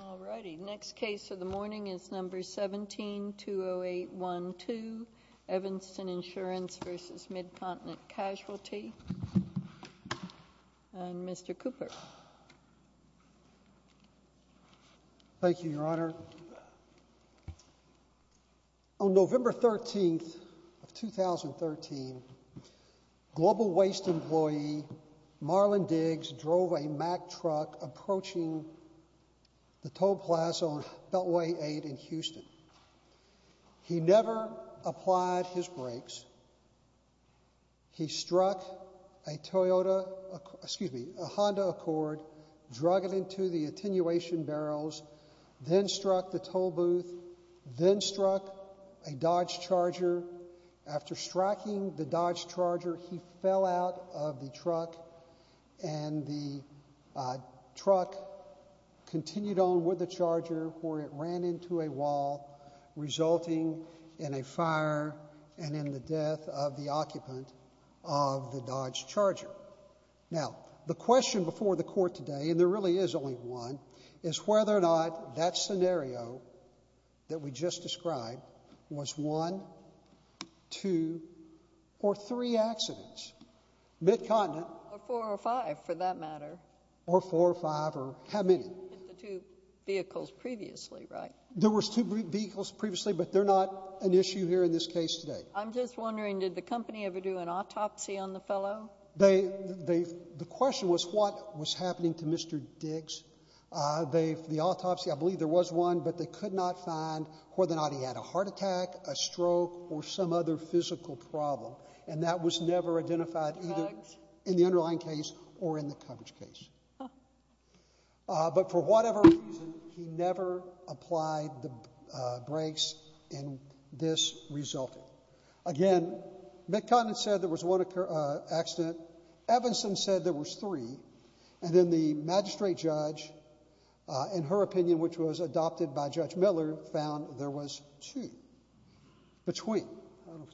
All righty, next case of the morning is number 17-20812, Evanston Insurance v. Mid-Continent Casualty, and Mr. Cooper. Thank you, Your Honor. On November 13th of 2013, Global Waste employee Marlon Diggs drove a Mack truck approaching the toll plaza on Beltway 8 in Houston. He never applied his brakes. He struck a Toyota, excuse me, a Honda Accord, drug it into the attenuation barrels, then struck the toll booth, then struck a Dodge Charger. After striking the Dodge Charger, he fell out of the truck, and the truck continued on with the Dodge Charger, where it ran into a wall, resulting in a fire and in the death of the occupant of the Dodge Charger. Now, the question before the Court today, and there really is only one, is whether or not that scenario that we just described was one, two, or three vehicles previously, right? There was two vehicles previously, but they're not an issue here in this case today. I'm just wondering, did the company ever do an autopsy on the fellow? The question was what was happening to Mr. Diggs. The autopsy, I believe there was one, but they could not find whether or not he had a heart attack, a stroke, or some other physical problem, and that was never identified either in the underlying case or in the coverage case. But for whatever reason, he never applied the brakes, and this resulted. Again, Mid-Continent said there was one accident, Evanston said there was three, and then the magistrate judge, in her opinion, which was adopted by Judge Miller, found there was two between,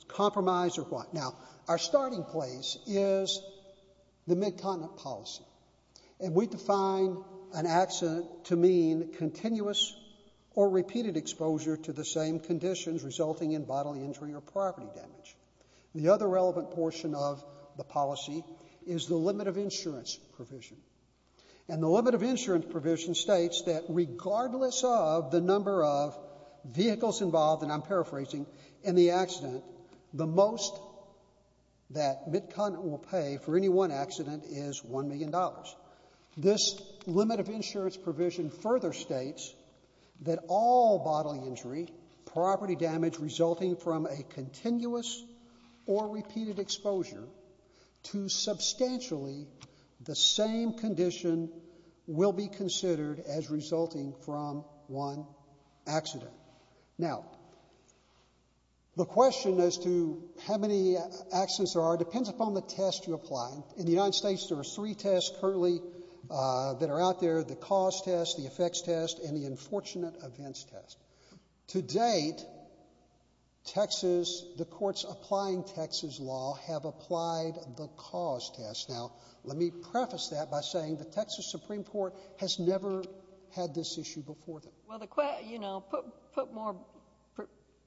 compromise or what. Now, our starting place is the Mid-Continent policy, and we define an accident to mean continuous or repeated exposure to the same conditions resulting in bodily injury or property damage. The other relevant portion of the policy is the limit of insurance provision, and the limit of insurance provision states that regardless of the number of vehicles involved, and I'm paraphrasing, in the accident, the most that Mid-Continent will pay for any one accident is $1 million. This limit of insurance provision further states that all bodily injury, property damage resulting from a continuous or repeated exposure to substantially the same condition will be considered as resulting from one accident. Now, the question as to how many accidents there are depends upon the test you apply. In the United States, there are three tests currently that are out there, the cause test, the effects test, and the unfortunate events test. To date, Texas, the courts applying Texas law have applied the cause test. Now, let me preface that by saying the Texas Supreme Court has never had this issue before. Well, the, you know, put more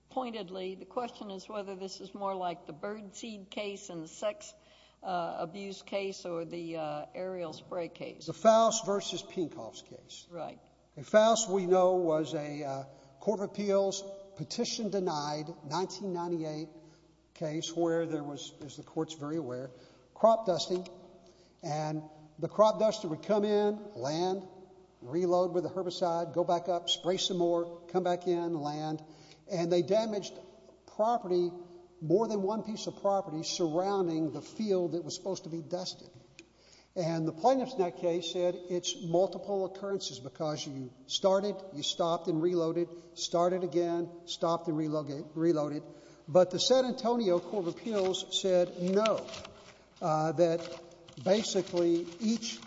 pointedly, the question is whether this is more like the birdseed case and the sex abuse case or the aerial spray case. The Faust versus Pinkhoff's case. Right. Faust, we know, was a court of appeals petition denied 1998 case where there was, as the courts very aware, crop dusting, and the crop duster would come in, land, reload with the herbicide, go back up, spray some more, come back in, land, and they damaged property, more than one piece of property surrounding the field that was supposed to be dusted. And the plaintiff's net case said it's multiple occurrences because you started, you stopped and reloaded, started again, stopped and reloaded. But the San Antonio court of appeals said no, that basically each,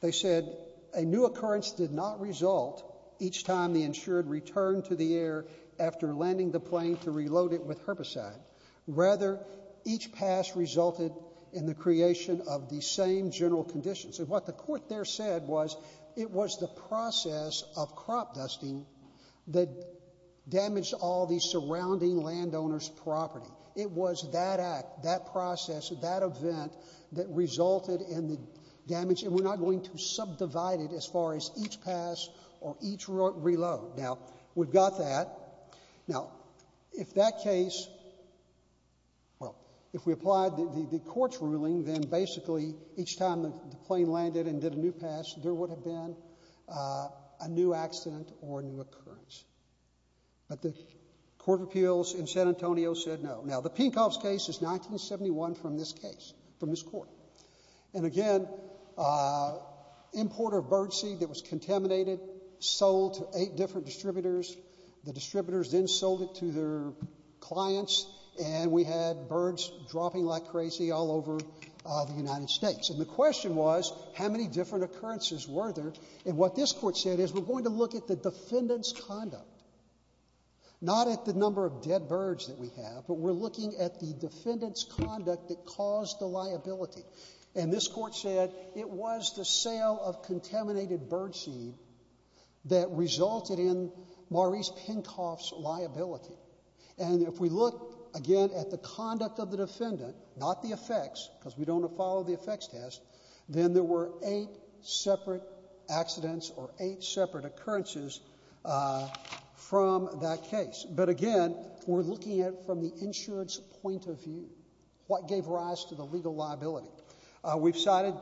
they said a new occurrence did not result each time the insured returned to the air after landing the plane to reload it with herbicide, rather each pass resulted in the creation of the same general conditions. And what the court there said was it was the process of crop dusting that damaged all the surrounding landowner's property. It was that act, that process, that event that resulted in the damage, and we're not going to subdivide it as far as each pass or each reload. Now we've got that. Now, if that case, well, if we applied the court's ruling, then basically each time the plane landed and did a new pass, there would have been a new accident or a new occurrence. But the court of appeals in San Antonio said no. Now the Pinkhoff's case is 1971 from this case, from this court. And again, importer of birdseed that was contaminated, sold to eight different distributors. The distributors then sold it to their clients, and we had birds dropping like crazy all over the United States. And the question was, how many different occurrences were there? And what this court said is, we're going to look at the defendant's conduct, not at the number of dead birds that we have, but we're looking at the defendant's conduct that caused the liability. And this court said it was the sale of contaminated birdseed that resulted in Maurice Pinkhoff's liability. And if we look, again, at the conduct of the defendant, not the effects, because we don't have to follow the effects test, then there were eight separate accidents or eight separate occurrences from that case. But again, we're looking at it from the insurance point of view. What gave rise to the legal liability? We've cited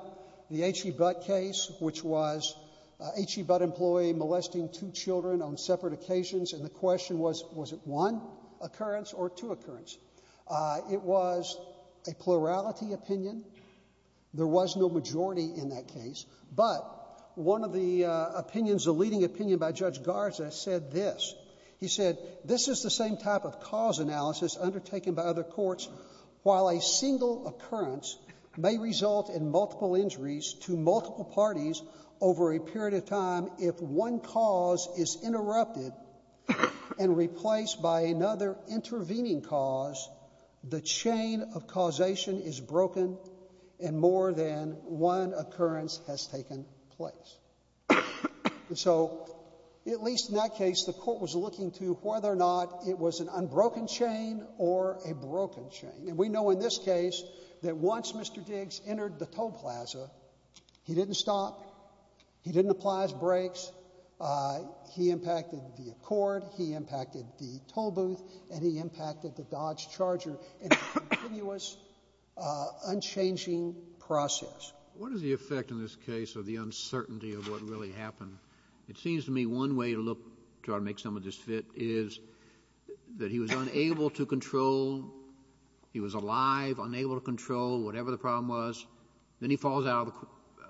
the H.E. Butt case, which was an H.E. Butt employee molesting two children on separate occasions, and the question was, was it one occurrence or two occurrences? It was a plurality opinion. There was no majority in that case. But one of the opinions, the leading opinion by Judge Garza said this. He said, this is the same type of cause analysis undertaken by other courts. While a single occurrence may result in multiple injuries to multiple parties over a period of time, if one cause is interrupted and replaced by another intervening cause, the chain of causation is broken, and more than one occurrence has taken place. And so, at least in that case, the court was looking to whether or not it was an unbroken chain or a broken chain. And we know in this case that once Mr. Diggs entered the toll plaza, he didn't stop. He didn't apply his brakes. He impacted the accord. He impacted the toll booth, and he impacted the Dodge Charger in a continuous, unchanging process. What is the effect in this case of the uncertainty of what really happened? It seems to me one way to try to make some of this fit is that he was unable to control, he was alive, unable to control, whatever the problem was, then he falls out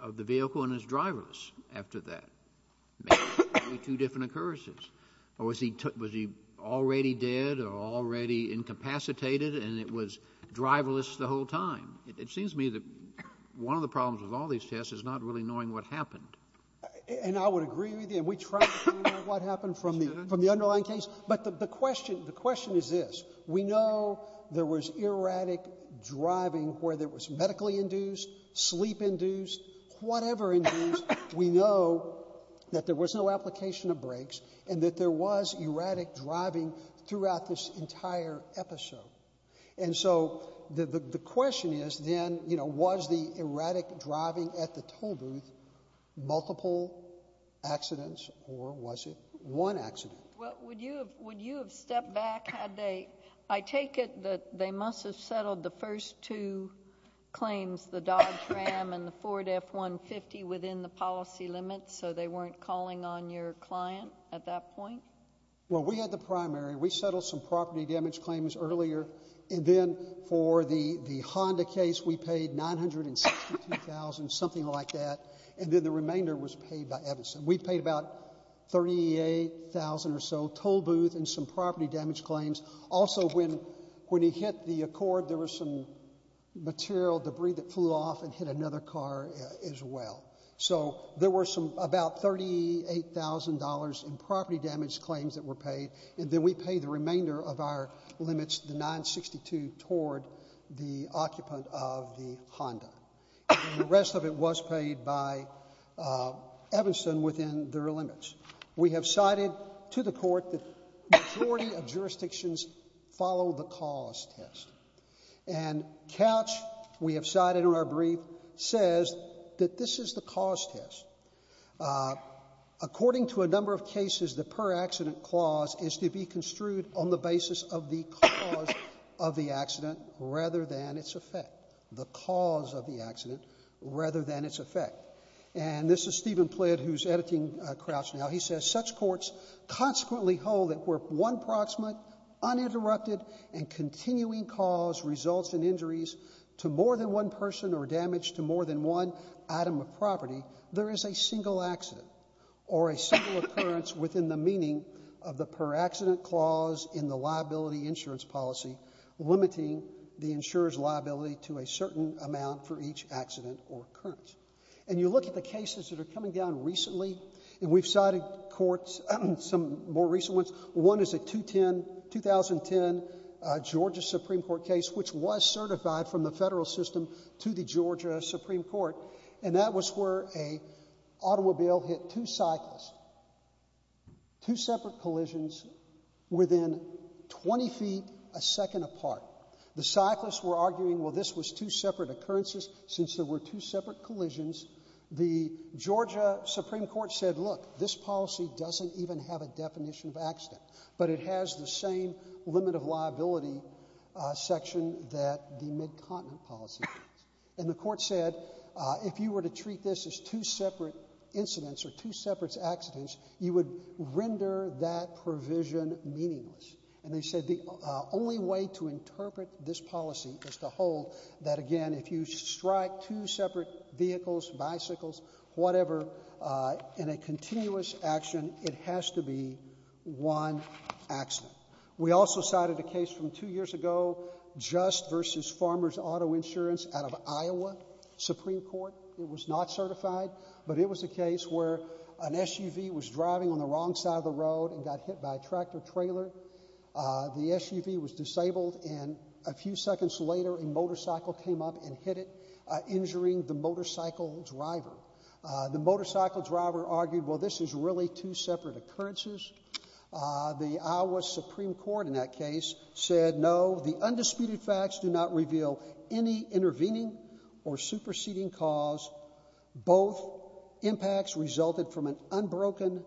of the vehicle and is driverless after that, maybe two different occurrences, or was he already dead or already incapacitated and it was driverless the whole time? It seems to me that one of the problems with all these tests is not really knowing what happened. And I would agree with you, and we try to find out what happened from the underlying case. But the question is this. We know there was erratic driving where there was medically induced, sleep induced, whatever induced. We know that there was no application of brakes and that there was erratic driving throughout this entire episode. And so the question is then, you know, was the erratic driving at the toll booth multiple accidents or was it one accident? Well, would you have stepped back had they, I take it that they must have settled the first two claims, the Dodge Ram and the Ford F-150 within the policy limits so they weren't calling on your client at that point? Well, we had the primary. We settled some property damage claims earlier. And then for the Honda case, we paid $962,000, something like that. And then the remainder was paid by Evanson. We paid about $38,000 or so, toll booth and some property damage claims. Also when he hit the Accord, there was some material debris that flew off and hit another car as well. So there were some about $38,000 in property damage claims that were paid and then we pay the remainder of our limits, the $962,000 toward the occupant of the Honda. The rest of it was paid by Evanson within their limits. We have cited to the court that majority of jurisdictions follow the cause test. And Crouch, we have cited in our brief, says that this is the cause test. According to a number of cases, the per-accident clause is to be construed on the basis of the cause of the accident rather than its effect. The cause of the accident rather than its effect. And this is Stephen Plitt, who's editing Crouch now, he says, such courts consequently hold that where one proximate uninterrupted and continuing cause results in injuries to more than one person or damage to more than one item of property, there is a single accident or a single occurrence within the meaning of the per-accident clause in the liability insurance policy limiting the insurer's liability to a certain amount for each accident or occurrence. And you look at the cases that are coming down recently, and we've cited courts, some more recent ones, one is a 2010 Georgia Supreme Court case, which was certified from the federal system to the Georgia Supreme Court, and that was where a automobile hit two cyclists. Two separate collisions within 20 feet a second apart. The cyclists were arguing, well, this was two separate occurrences, since there were two separate collisions. The Georgia Supreme Court said, look, this policy doesn't even have a definition of accident, but it has the same limit of liability section that the mid-continent policy has. And the court said, if you were to treat this as two separate incidents or two separate accidents, you would render that provision meaningless. And they said the only way to interpret this policy is to hold that, again, if you strike two separate vehicles, bicycles, whatever, in a continuous action, it has to be one accident. We also cited a case from two years ago, Just v. Farmers Auto Insurance out of Iowa Supreme Court. It was not certified, but it was a case where an SUV was driving on the wrong side of the road and got hit by a tractor trailer. The SUV was disabled, and a few seconds later, a motorcycle came up and hit it, injuring the motorcycle driver. The motorcycle driver argued, well, this is really two separate occurrences. The Iowa Supreme Court in that case said, no, the undisputed facts do not reveal any intervening or superseding cause. Both impacts resulted from an unbroken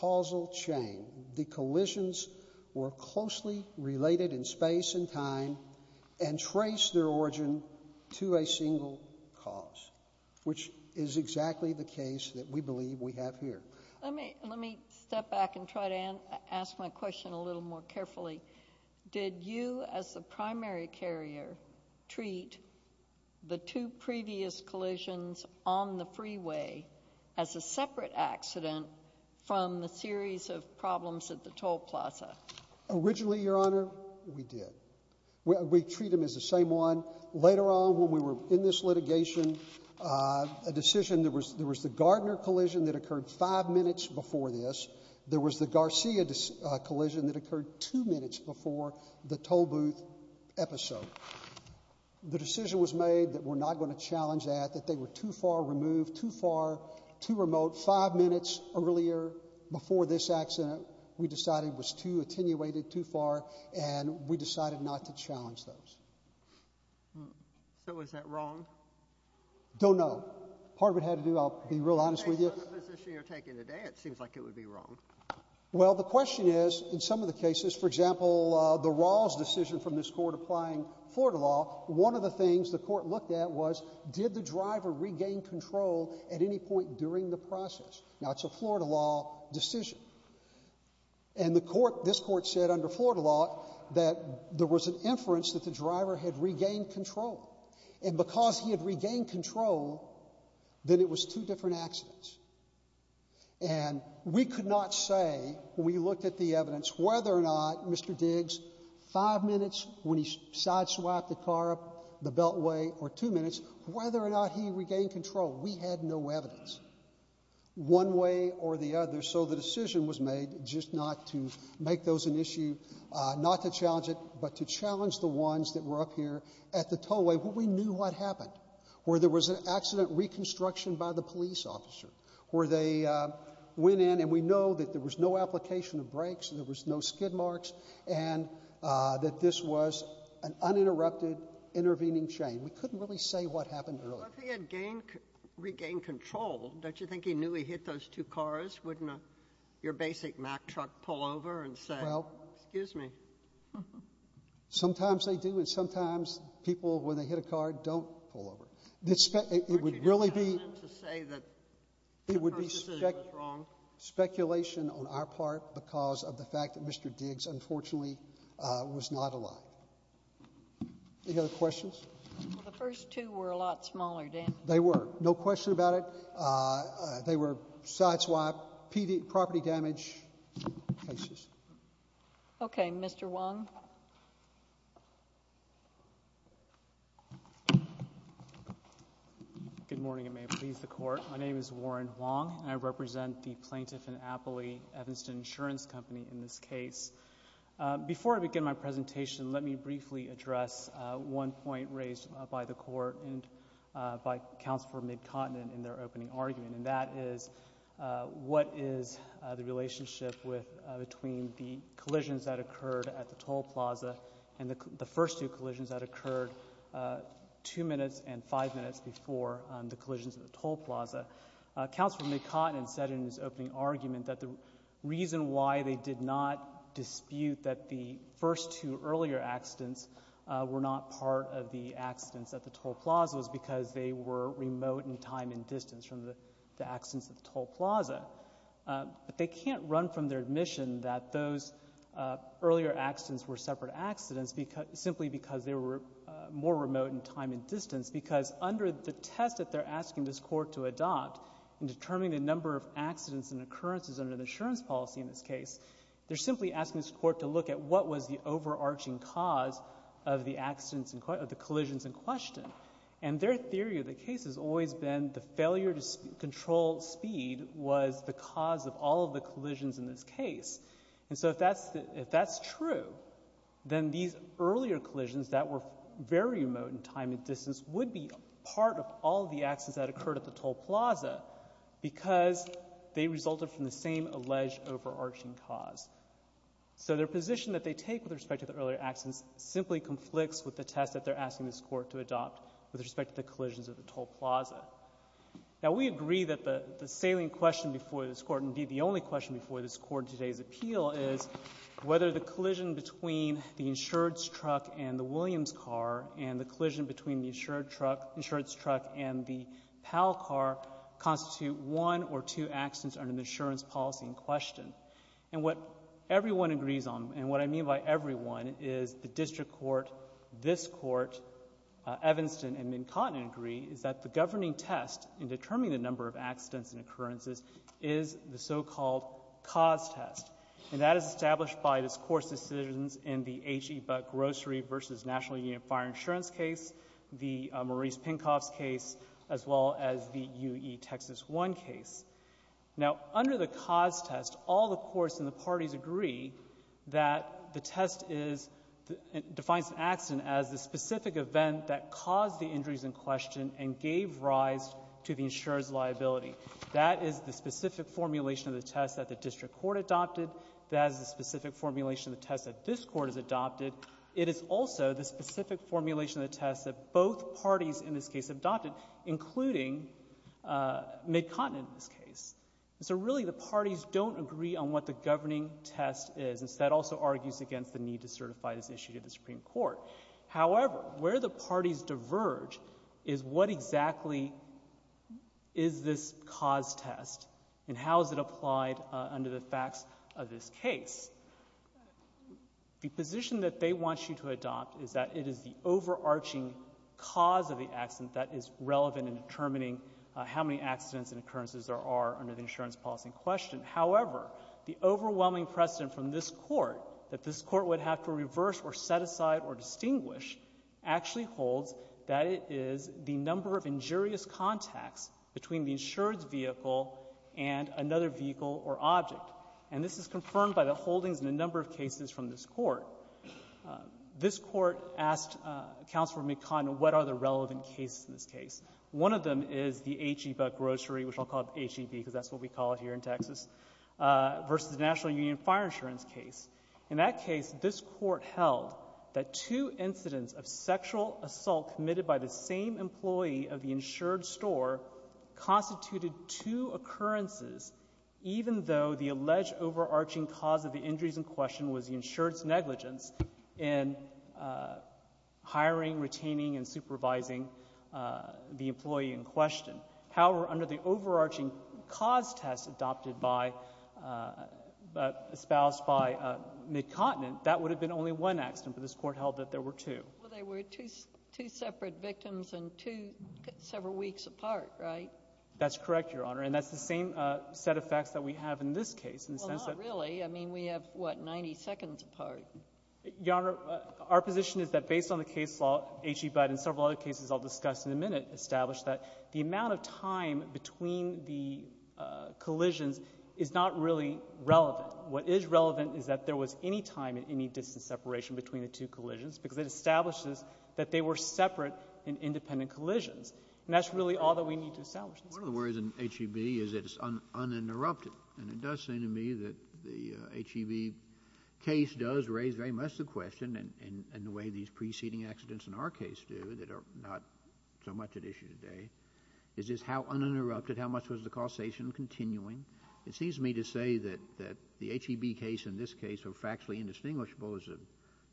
causal chain. The collisions were closely related in space and time and traced their origin to a single cause, which is exactly the case that we believe we have here. Let me step back and try to ask my question a little more carefully. Did you, as the primary carrier, treat the two previous collisions on the freeway as a separate accident from the series of problems at the toll plaza? Originally, Your Honor, we did. We treat them as the same one. Later on, when we were in this litigation, a decision, there was the Gardner collision that occurred five minutes before this. There was the Garcia collision that occurred two minutes before the toll booth episode. The decision was made that we're not going to challenge that, that they were too far removed, too far, too remote, five minutes earlier before this accident. We decided it was too attenuated, too far, and we decided not to challenge those. So, is that wrong? Don't know. Part of it had to do, I'll be real honest with you. Based on the position you're taking today, it seems like it would be wrong. Well, the question is, in some of the cases, for example, the Rawls decision from this court applying Florida law, one of the things the court looked at was, did the driver regain control at any point during the process? Now, it's a Florida law decision. And the court, this court said under Florida law that there was an inference that the driver had regained control. And because he had regained control, then it was two different accidents. And we could not say, when we looked at the evidence, whether or not Mr. Diggs, five minutes when he sideswiped the car up the beltway, or two minutes, whether or not he regained control. We had no evidence. One way or the other. So the decision was made just not to make those an issue, not to challenge it, but to challenge the ones that were up here at the tollway where we knew what happened. Where there was an accident reconstruction by the police officer, where they went in and we know that there was no application of brakes, there was no skid marks, and that this was an uninterrupted, intervening chain. We couldn't really say what happened earlier. Well, if he had regained control, don't you think he knew he hit those two cars? Wouldn't your basic Mack truck pull over and say, excuse me? Sometimes they do. And sometimes people, when they hit a car, don't pull over. It would really be speculation on our part because of the fact that Mr. Diggs, unfortunately, was not alive. Any other questions? Well, the first two were a lot smaller damage. They were. No question about it. They were side-swap, property damage cases. Okay. Mr. Wong. Good morning, and may it please the Court. My name is Warren Wong, and I represent the Plaintiff and Appley Evanston Insurance Company in this case. Before I begin my presentation, let me briefly address one point raised by the Court and by Counsel for McContenant in their opening argument, and that is, what is the relationship between the collisions that occurred at the Toll Plaza and the first two collisions that occurred two minutes and five minutes before the collisions at the Toll Plaza? Counsel for McContenant said in his opening argument that the reason why they did not dispute that the first two earlier accidents were not part of the accidents at the Toll Plaza was because they were remote in time and distance from the accidents at the Toll Plaza. But they can't run from their admission that those earlier accidents were separate accidents simply because they were more remote in time and distance, because under the test that they're asking this Court to adopt in determining the number of accidents and occurrences under the insurance policy in this case, they're simply asking this Court to look at what was the overarching cause of the collisions in question. And their theory of the case has always been the failure to control speed was the cause of all of the collisions in this case. And so if that's true, then these earlier collisions that were very remote in time and distance were not part of the accidents that occurred at the Toll Plaza because they resulted from the same alleged overarching cause. So their position that they take with respect to the earlier accidents simply conflicts with the test that they're asking this Court to adopt with respect to the collisions at the Toll Plaza. Now we agree that the salient question before this Court, and indeed the only question before this Court in today's appeal, is whether the collision between the insurance truck and the PAL car constitute one or two accidents under the insurance policy in question. And what everyone agrees on, and what I mean by everyone, is the District Court, this Court, Evanston and McCotten agree, is that the governing test in determining the number of accidents and occurrences is the so-called cause test. And that is established by this Court's decisions in the H. E. Buck Grocery v. National Union Fire Insurance case, the Maurice Pinkoff's case, as well as the U. E. Texas 1 case. Now under the cause test, all the courts and the parties agree that the test defines an accident as the specific event that caused the injuries in question and gave rise to the insurer's liability. That is the specific formulation of the test that the District Court adopted. That is the specific formulation of the test that this Court has adopted. It is also the specific formulation of the test that both parties in this case adopted, including McCotten in this case. So really the parties don't agree on what the governing test is, and so that also argues against the need to certify this issue to the Supreme Court. However, where the parties diverge is what exactly is this cause test and how is it applied under the facts of this case. The position that they want you to adopt is that it is the overarching cause of the accident that is relevant in determining how many accidents and occurrences there are under the insurance policy in question. However, the overwhelming precedent from this Court that this Court would have to reverse or set aside or distinguish actually holds that it is the number of injurious contacts between the insured's vehicle and another vehicle or object. And this is confirmed by the holdings in a number of cases from this Court. This Court asked Counselor McCotten what are the relevant cases in this case. One of them is the H-E-Bug grocery, which I'll call it H-E-B because that's what we call it here in Texas, versus the National Union Fire Insurance case. In that case, this Court held that two incidents of sexual assault committed by the same employee of the insured store constituted two occurrences, even though the alleged overarching cause of the injuries in question was the insured's negligence in hiring, retaining, and supervising the employee in question. However, under the overarching cause test adopted by, espoused by McCotten, that would have been only one accident, but this Court held that there were two. Well, they were two separate victims and two several weeks apart, right? That's correct, Your Honor, and that's the same set of facts that we have in this case in the sense that— Well, not really. I mean, we have, what, 90 seconds apart. Your Honor, our position is that based on the case law, H-E-Bug and several other cases I'll discuss in a minute establish that the amount of time between the collisions is not really relevant. What is relevant is that there was any time at any distance separation between the two cases that establishes that they were separate and independent collisions, and that's really all that we need to establish. One of the worries in H-E-B is that it's uninterrupted, and it does seem to me that the H-E-B case does raise very much the question, in the way these preceding accidents in our case do, that are not so much at issue today, is just how uninterrupted, how much was the causation continuing? It seems to me to say that the H-E-B case and this case are factually indistinguishable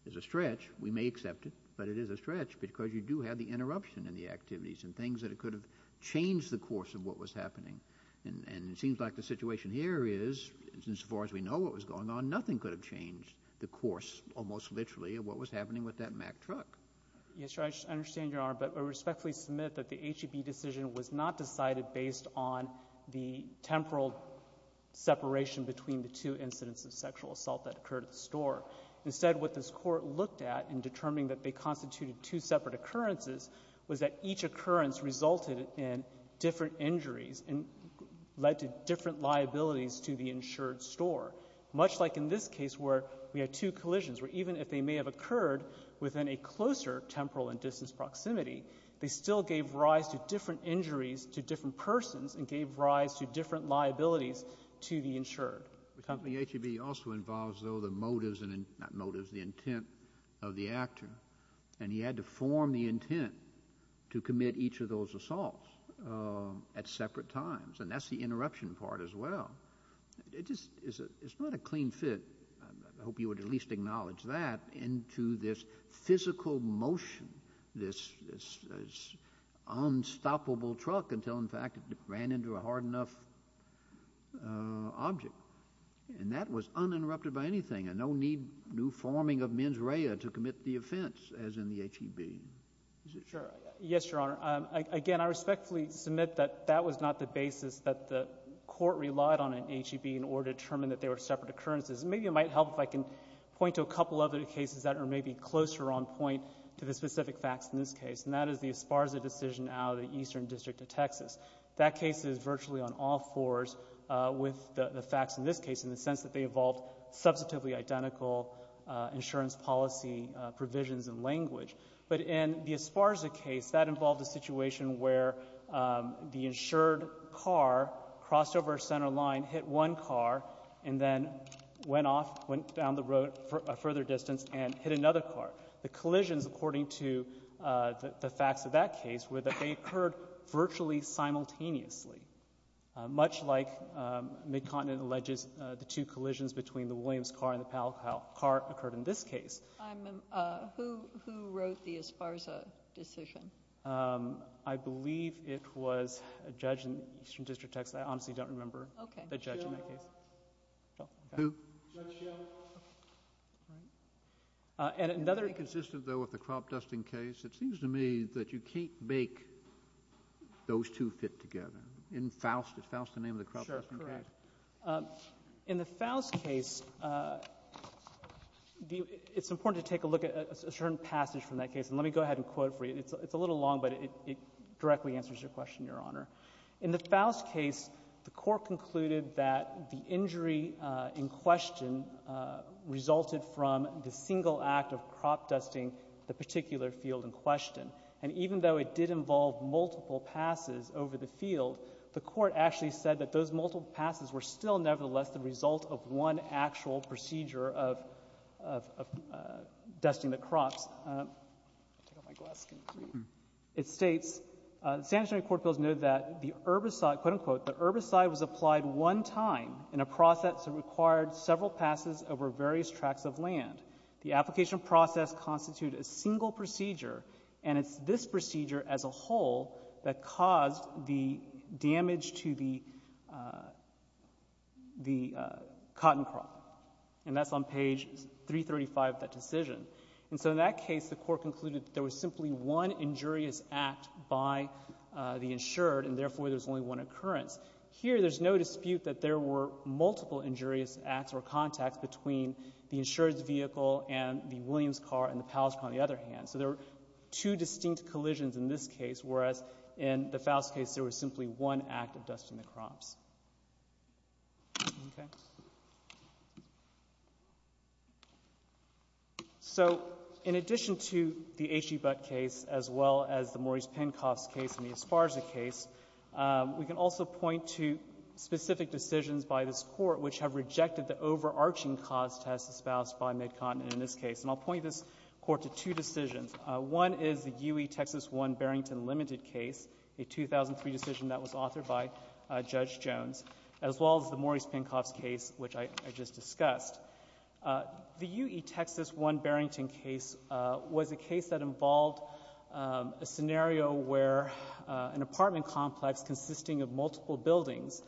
as a stretch. We may accept it, but it is a stretch, because you do have the interruption in the activities and things that could have changed the course of what was happening, and it seems like the situation here is, as far as we know what was going on, nothing could have changed the course, almost literally, of what was happening with that Mack truck. Yes, Your Honor, I understand, Your Honor, but I respectfully submit that the H-E-B decision was not decided based on the temporal separation between the two incidents of sexual assault that occurred at the store. Instead, what this Court looked at in determining that they constituted two separate occurrences was that each occurrence resulted in different injuries and led to different liabilities to the insured store, much like in this case where we had two collisions, where even if they may have occurred within a closer temporal and distance proximity, they still gave rise to different injuries to different persons and gave rise to different liabilities to the insured. The H-E-B also involves, though, the motives, not motives, the intent of the actor, and he had to form the intent to commit each of those assaults at separate times, and that's the interruption part as well. It just is not a clean fit, I hope you would at least acknowledge that, into this physical motion, this unstoppable truck until, in fact, it ran into a hard enough object, and that was uninterrupted by anything, and no need, no forming of mens rea to commit the offense as in the H-E-B decision. Sure. Yes, Your Honor. Again, I respectfully submit that that was not the basis that the Court relied on in H-E-B in order to determine that they were separate occurrences, and maybe it might help if I can point to a couple of other cases that are maybe closer on point to the specific facts in this case, and that is the Esparza decision out of the Eastern District of Texas. That case is virtually on all fours with the facts in this case in the sense that they involved substantively identical insurance policy provisions and language. But in the Esparza case, that involved a situation where the insured car crossed over a center line, hit one car, and then went off, went down the road a further distance, and hit another car. The collisions, according to the facts of that case, were that they occurred virtually simultaneously, much like Midcontinent alleges the two collisions between the Williams car and the Powell car occurred in this case. I'm... who wrote the Esparza decision? I believe it was a judge in the Eastern District of Texas. I honestly don't remember. Okay. The judge in that case. Who? Judge Schill. And another... Is that consistent, though, with the crop dusting case? It seems to me that you can't make those two fit together. In Faust, is Faust the name of the crop dusting case? Sure, correct. In the Faust case, it's important to take a look at a certain passage from that case, and let me go ahead and quote it for you. It's a little long, but it directly answers your question, Your Honor. In the Faust case, the court concluded that the injury in question resulted from the single act of crop dusting the particular field in question. And even though it did involve multiple passes over the field, the court actually said that those multiple passes were still, nevertheless, the result of one actual procedure of dusting the crops. I'll take off my glasses. It states, the San Antonio Court of Appeals noted that the herbicide, quote-unquote, the herbicide was applied one time in a process that required several passes over various tracts of land. The application process constituted a single procedure, and it's this procedure as a whole that caused the damage to the cotton crop. And that's on page 335 of that decision. And so in that case, the court concluded that there was simply one injurious act by the insured, and therefore, there's only one occurrence. Here, there's no dispute that there were multiple injurious acts or contacts between the insured's vehicle and the Williams car and the Powell's car, on the other hand. So there were two distinct collisions in this case, whereas in the Faust case, there was simply one act of dusting the crops. Okay. So in addition to the H.E. Butt case, as well as the Maurice Penkoff's case and the Esparza case, we can also point to specific decisions by this court which have rejected the overarching cause test espoused by MidContinent in this case. And I'll point this court to two decisions. One is the UE Texas 1 Barrington Limited case, a 2003 decision that was authored by Judge Jones, as well as the Maurice Penkoff's case, which I just discussed. The UE Texas 1 Barrington case was a case that involved a scenario where an apartment complex consisting of multiple buildings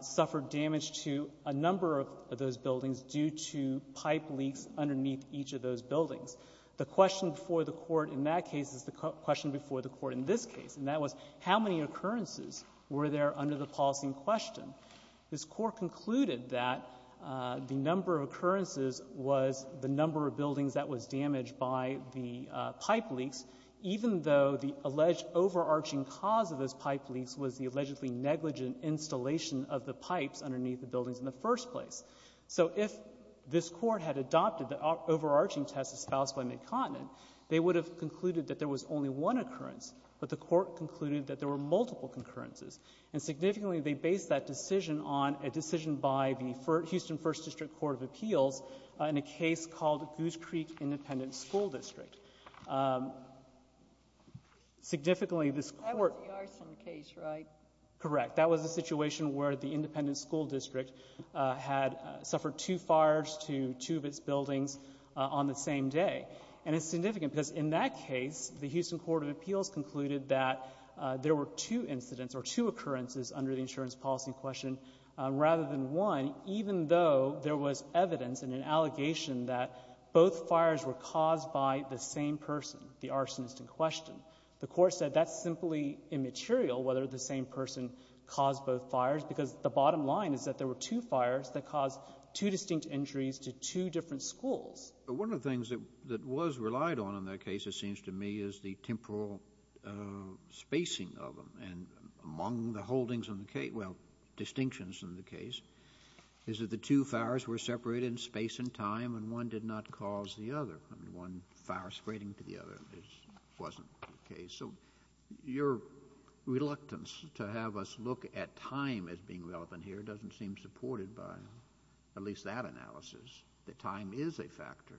suffered damage to a number of those buildings due to pipe leaks underneath each of those buildings. The question before the court in that case is the question before the court in this case, and that was, how many occurrences were there under the policy in question? This court concluded that the number of occurrences was the number of buildings that was damaged by the pipe leaks, even though the alleged overarching cause of those pipe leaks was the allegedly negligent installation of the pipes underneath the buildings in the first place. So if this court had adopted the overarching test espoused by MidContinent, they would have concluded that there was only one occurrence, but the court concluded that there were multiple concurrences. And significantly, they based that decision on a decision by the Houston First District Court of Appeals in a case called Goose Creek Independent School District. Significantly this court... That was the arson case, right? Correct. That was a situation where the independent school district had suffered two fires to two of its buildings on the same day. And it's significant, because in that case, the Houston Court of Appeals concluded that there were two incidents or two occurrences under the insurance policy in question, rather than one, even though there was evidence in an allegation that both fires were caused by the same person, the arsonist in question. The court said that's simply immaterial, whether the same person caused both fires, because the bottom line is that there were two fires that caused two distinct injuries to two different schools. One of the things that was relied on in that case, it seems to me, is the temporal spacing of them. And among the holdings in the case... well, distinctions in the case, is that the two fires were separated in space and time, and one did not cause the other. I mean, one fire spreading to the other wasn't the case. So your reluctance to have us look at time as being relevant here doesn't seem supported by at least that analysis. The time is a factor.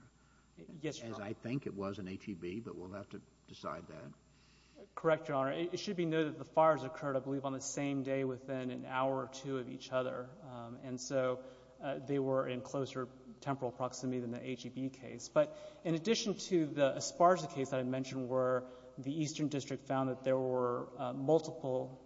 Yes, Your Honor. As I think it was in ATB, but we'll have to decide that. Correct, Your Honor. It should be noted that the fires occurred, I believe, on the same day within an hour or two of each other. And so, they were in closer temporal proximity than the ATB case. But in addition to the Esparza case that I mentioned, where the Eastern District found that there were multiple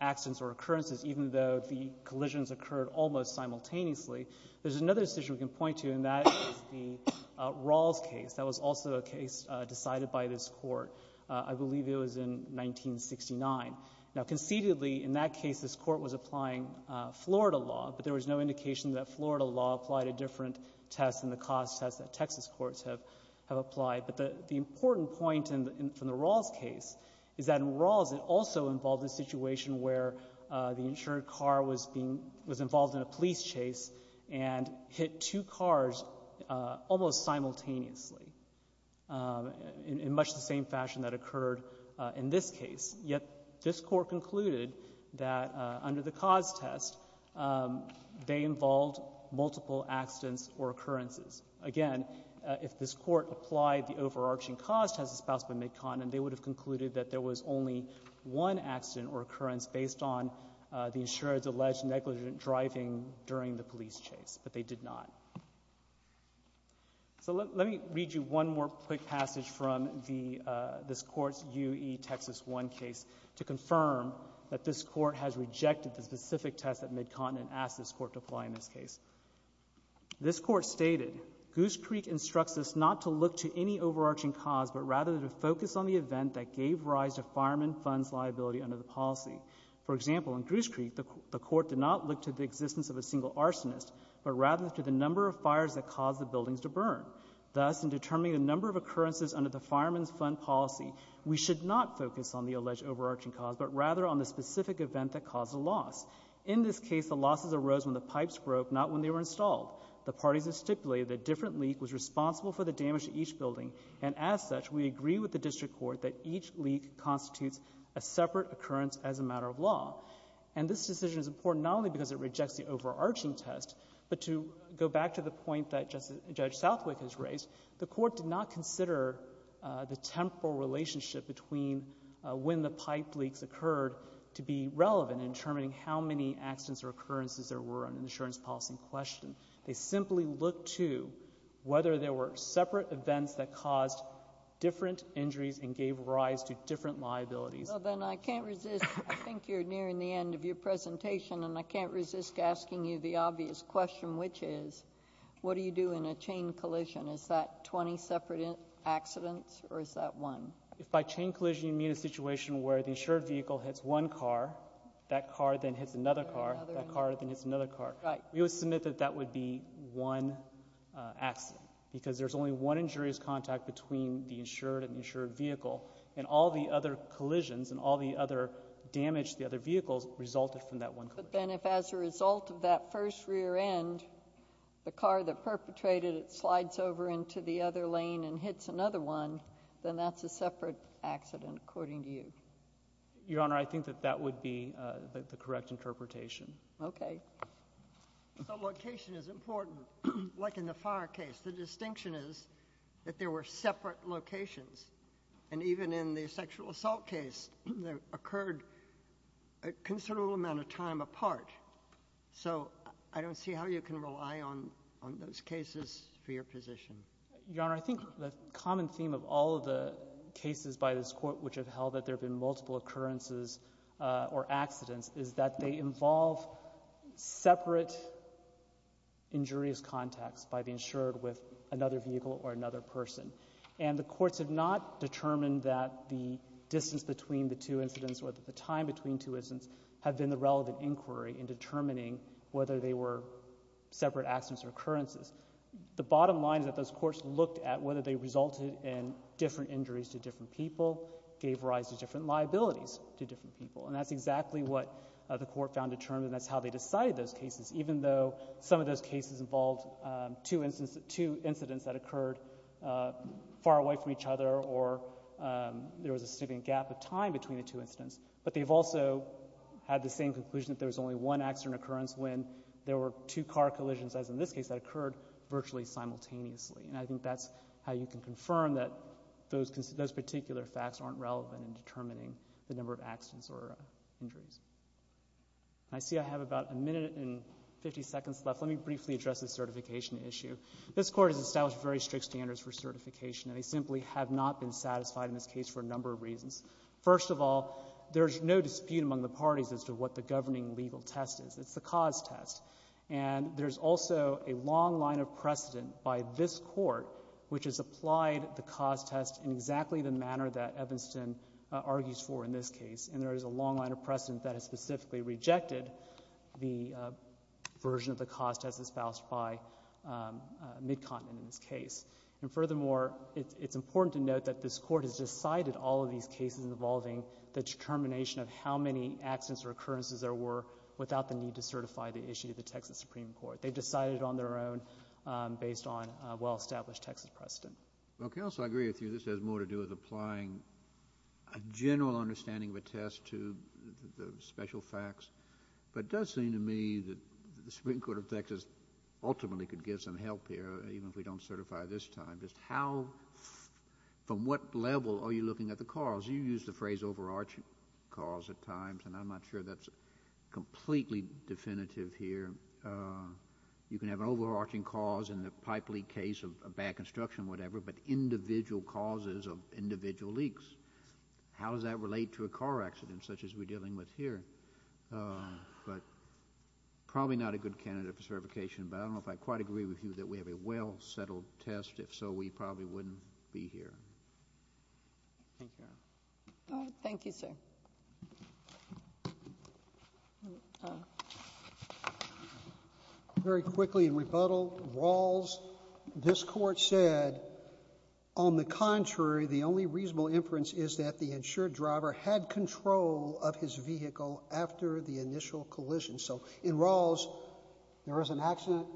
accidents or occurrences, even though the collisions occurred almost simultaneously, there's another decision we can point to, and that is the Rawls case. That was also a case decided by this Court. I believe it was in 1969. Now, concededly, in that case, this Court was applying Florida law, but there was no indication that Florida law applied a different test than the cost test that Texas courts have applied. But the important point from the Rawls case is that in Rawls, it also involved a situation where the insured car was involved in a police chase and hit two cars almost simultaneously in much the same fashion that occurred in this case. Yet this Court concluded that under the cost test, they involved multiple accidents or occurrences. Again, if this Court applied the overarching cost test as espoused by McConn, they would have concluded that there was only one accident or occurrence based on the insured's alleged negligent driving during the police chase, but they did not. So let me read you one more quick passage from this Court's UE Texas 1 case to confirm that this Court has rejected the specific test that McConn asked this Court to apply in this case. This Court stated, Goose Creek instructs us not to look to any overarching cause, but rather to focus on the event that gave rise to fireman funds liability under the policy. For example, in Goose Creek, the Court did not look to the existence of a single arsonist, but rather to the number of fires that caused the buildings to burn. Thus, in determining the number of occurrences under the fireman's fund policy, we should not focus on the alleged overarching cause, but rather on the specific event that caused the loss. In this case, the losses arose when the pipes broke, not when they were installed. The parties have stipulated that a different leak was responsible for the damage to each pipe. We agree with the District Court that each leak constitutes a separate occurrence as a matter of law. And this decision is important not only because it rejects the overarching test, but to go back to the point that Judge Southwick has raised, the Court did not consider the temporal relationship between when the pipe leaks occurred to be relevant in determining how many accidents or occurrences there were in an insurance policy question. They simply looked to whether there were separate events that caused different injuries and gave rise to different liabilities. Well, then I can't resist, I think you're nearing the end of your presentation, and I can't resist asking you the obvious question, which is, what do you do in a chain collision? Is that 20 separate accidents, or is that one? If by chain collision you mean a situation where the insured vehicle hits one car, that car then hits another car, that car then hits another car. Right. We would submit that that would be one accident, because there's only one injurious contact between the insured and the insured vehicle. And all the other collisions and all the other damage to the other vehicles resulted from that one collision. But then if as a result of that first rear end, the car that perpetrated it slides over into the other lane and hits another one, then that's a separate accident, according to you. Your Honor, I think that that would be the correct interpretation. Okay. So location is important. Like in the fire case, the distinction is that there were separate locations. And even in the sexual assault case, there occurred a considerable amount of time apart. So I don't see how you can rely on those cases for your position. Your Honor, I think the common theme of all of the cases by this Court which have held that there have been multiple occurrences or accidents is that they involve separate injurious contacts by the insured with another vehicle or another person. And the courts have not determined that the distance between the two incidents or the time between two incidents have been the relevant inquiry in determining whether they were separate accidents or occurrences. The bottom line is that those courts looked at whether they resulted in different injuries to different people, gave rise to different liabilities to different people. And that's exactly what the Court found determined and that's how they decided those cases. Even though some of those cases involved two incidents that occurred far away from each other or there was a significant gap of time between the two incidents. But they've also had the same conclusion that there was only one accident or occurrence when there were two car collisions, as in this case, that occurred virtually simultaneously. And I think that's how you can confirm that those particular facts aren't relevant in determining the number of accidents or injuries. I see I have about a minute and 50 seconds left. Let me briefly address the certification issue. This Court has established very strict standards for certification and they simply have not been satisfied in this case for a number of reasons. First of all, there's no dispute among the parties as to what the governing legal test is. It's the cause test. And there's also a long line of precedent by this Court which has applied the cause test in exactly the manner that Evanston argues for in this case and there is a long line of precedent that has specifically rejected the version of the cause test espoused by Midcontinent in this case. And furthermore, it's important to note that this Court has decided all of these cases involving the determination of how many accidents or occurrences there were without the need to certify the issue to the Texas Supreme Court. They've decided on their own based on a well-established Texas precedent. Well, counsel, I agree with you. This has more to do with applying a general understanding of a test to the special facts. But it does seem to me that the Supreme Court of Texas ultimately could give some help here even if we don't certify it this time, just how, from what level are you looking at the cause? You used the phrase overarching cause at times and I'm not sure that's completely definitive here. You can have an overarching cause in the pipe leak case of a bad construction or whatever, but individual causes of individual leaks, how does that relate to a car accident such as we're dealing with here? But probably not a good candidate for certification, but I don't know if I quite agree with you that we have a well-settled test. If so, we probably wouldn't be here. Thank you, Your Honor. Thank you, sir. Very quickly in rebuttal, Rawls, this court said, on the contrary, the only reasonable inference is that the insured driver had control of his vehicle after the initial collision. So in Rawls, there was an accident,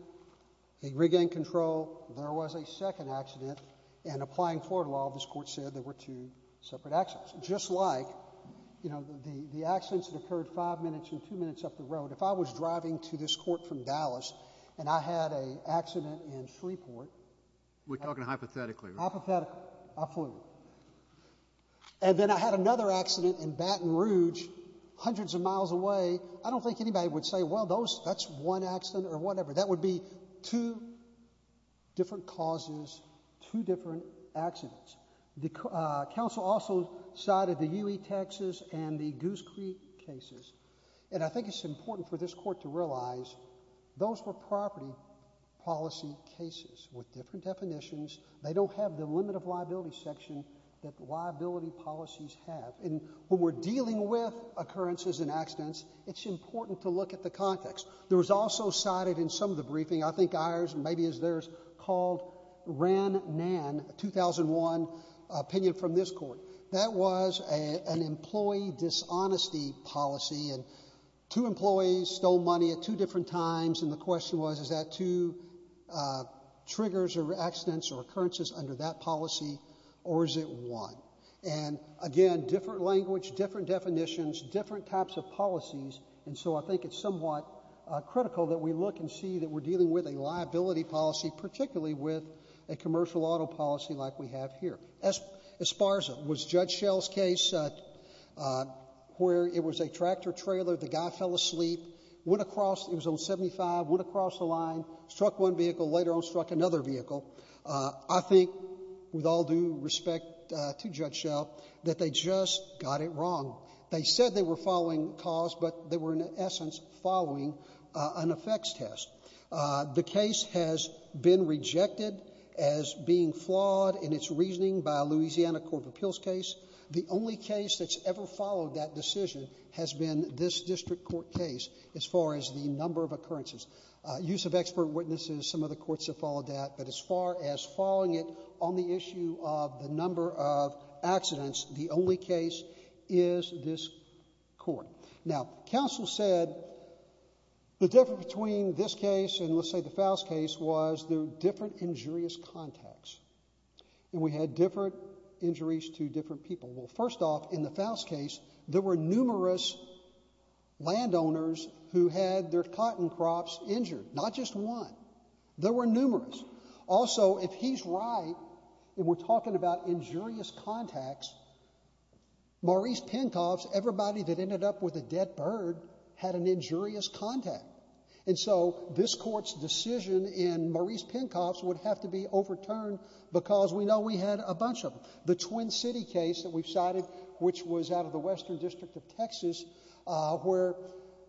he regained control, there was a second accident, and applying Florida law, this court said there were two separate accidents. Just like, you know, the accidents that occurred five minutes and two minutes up the road, if I was driving to this court from Dallas and I had an accident in Shreveport. We're talking hypothetically, right? Hypothetically. I flew. And then I had another accident in Baton Rouge, hundreds of miles away. I don't think anybody would say, well, that's one accident or whatever. That would be two different causes, two different accidents. The counsel also cited the UE Texas and the Goose Creek cases. And I think it's important for this court to realize those were property policy cases with different definitions. They don't have the limit of liability section that liability policies have. And when we're dealing with occurrences and accidents, it's important to look at the context. There was also cited in some of the briefing, I think ours, maybe is theirs, called Ran Nan, a 2001 opinion from this court. That was an employee dishonesty policy, and two employees stole money at two different times, and the question was, is that two triggers or accidents or occurrences under that policy, or is it one? And again, different language, different definitions, different types of policies, and so I think it's somewhat critical that we look and see that we're dealing with a liability policy, particularly with a commercial auto policy like we have here. Esparza was Judge Schell's case where it was a tractor trailer, the guy fell asleep, went across, he was on 75, went across the line, struck one vehicle, later on struck another vehicle. I think, with all due respect to Judge Schell, that they just got it wrong. They said they were following cause, but they were, in essence, following an effects test. The case has been rejected as being flawed in its reasoning by a Louisiana Court of Appeals case. The only case that's ever followed that decision has been this district court case, as far as the number of occurrences. Use of expert witnesses, some of the courts have followed that, but as far as following it on the issue of the number of accidents, the only case is this court. Now, counsel said the difference between this case and, let's say, the Faust case was the different injurious contacts, and we had different injuries to different people. Well, first off, in the Faust case, there were numerous landowners who had their cotton crops injured, not just one. There were numerous. Also, if he's right, and we're talking about injurious contacts, Maurice Penkoff's, everybody that ended up with a dead bird, had an injurious contact. And so, this court's decision in Maurice Penkoff's would have to be overturned because we know we had a bunch of them. The Twin City case that we've cited, which was out of the Western District of Texas, where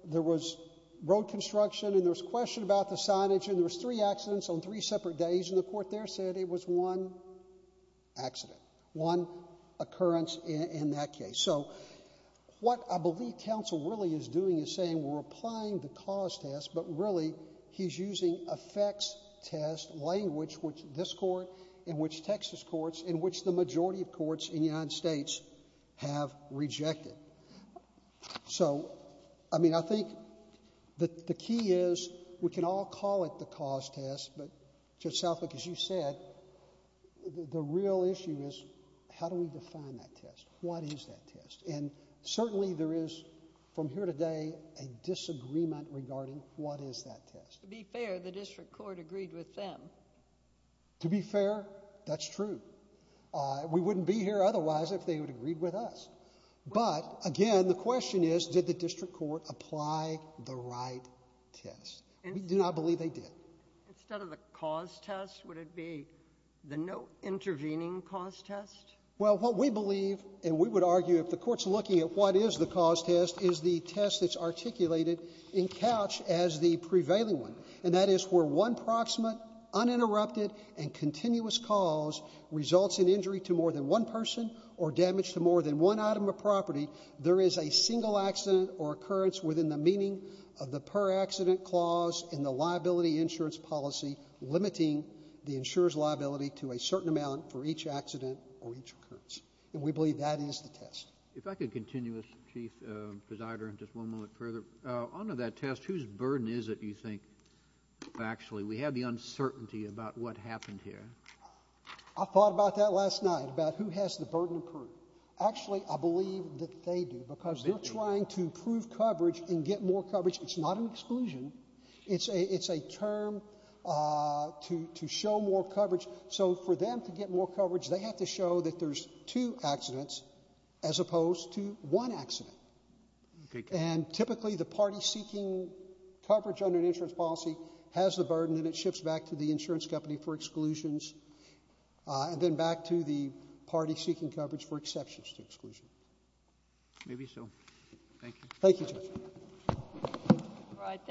there was road construction, and there was question about the signage, and there was three accidents on three separate days, and the court there said it was one accident, one occurrence in that case. So, what I believe counsel really is doing is saying, we're applying the cause test, but really, he's using effects test language, which this court, in which Texas courts, in which the majority of courts in the United States have rejected. So, I mean, I think that the key is, we can all call it the cause test, but Judge Southwick, as you said, the real issue is, how do we define that test? What is that test? And certainly, there is, from here today, a disagreement regarding what is that test. To be fair, the district court agreed with them. To be fair, that's true. We wouldn't be here otherwise if they would have agreed with us. But, again, the question is, did the district court apply the right test? We do not believe they did. Instead of the cause test, would it be the no intervening cause test? Well, what we believe, and we would argue if the court's looking at what is the cause test, is the test that's articulated in Couch as the prevailing one. And that is where one proximate, uninterrupted, and continuous cause results in injury to more than one item of property. There is a single accident or occurrence within the meaning of the per-accident clause in the liability insurance policy limiting the insurer's liability to a certain amount for each accident or each occurrence. And we believe that is the test. If I could continue, Chief Presider, and just one moment further, under that test, whose burden is it, you think, actually? We have the uncertainty about what happened here. I thought about that last night, about who has the burden of proof. Actually, I believe that they do, because they're trying to prove coverage and get more coverage. It's not an exclusion. It's a term to show more coverage. So for them to get more coverage, they have to show that there's two accidents as opposed to one accident. And typically, the party seeking coverage under an insurance policy has the burden and it shifts back to the insurance company for exclusions, and then back to the party seeking coverage for exceptions to exclusion. Maybe so. Thank you. Thank you, Judge. All right.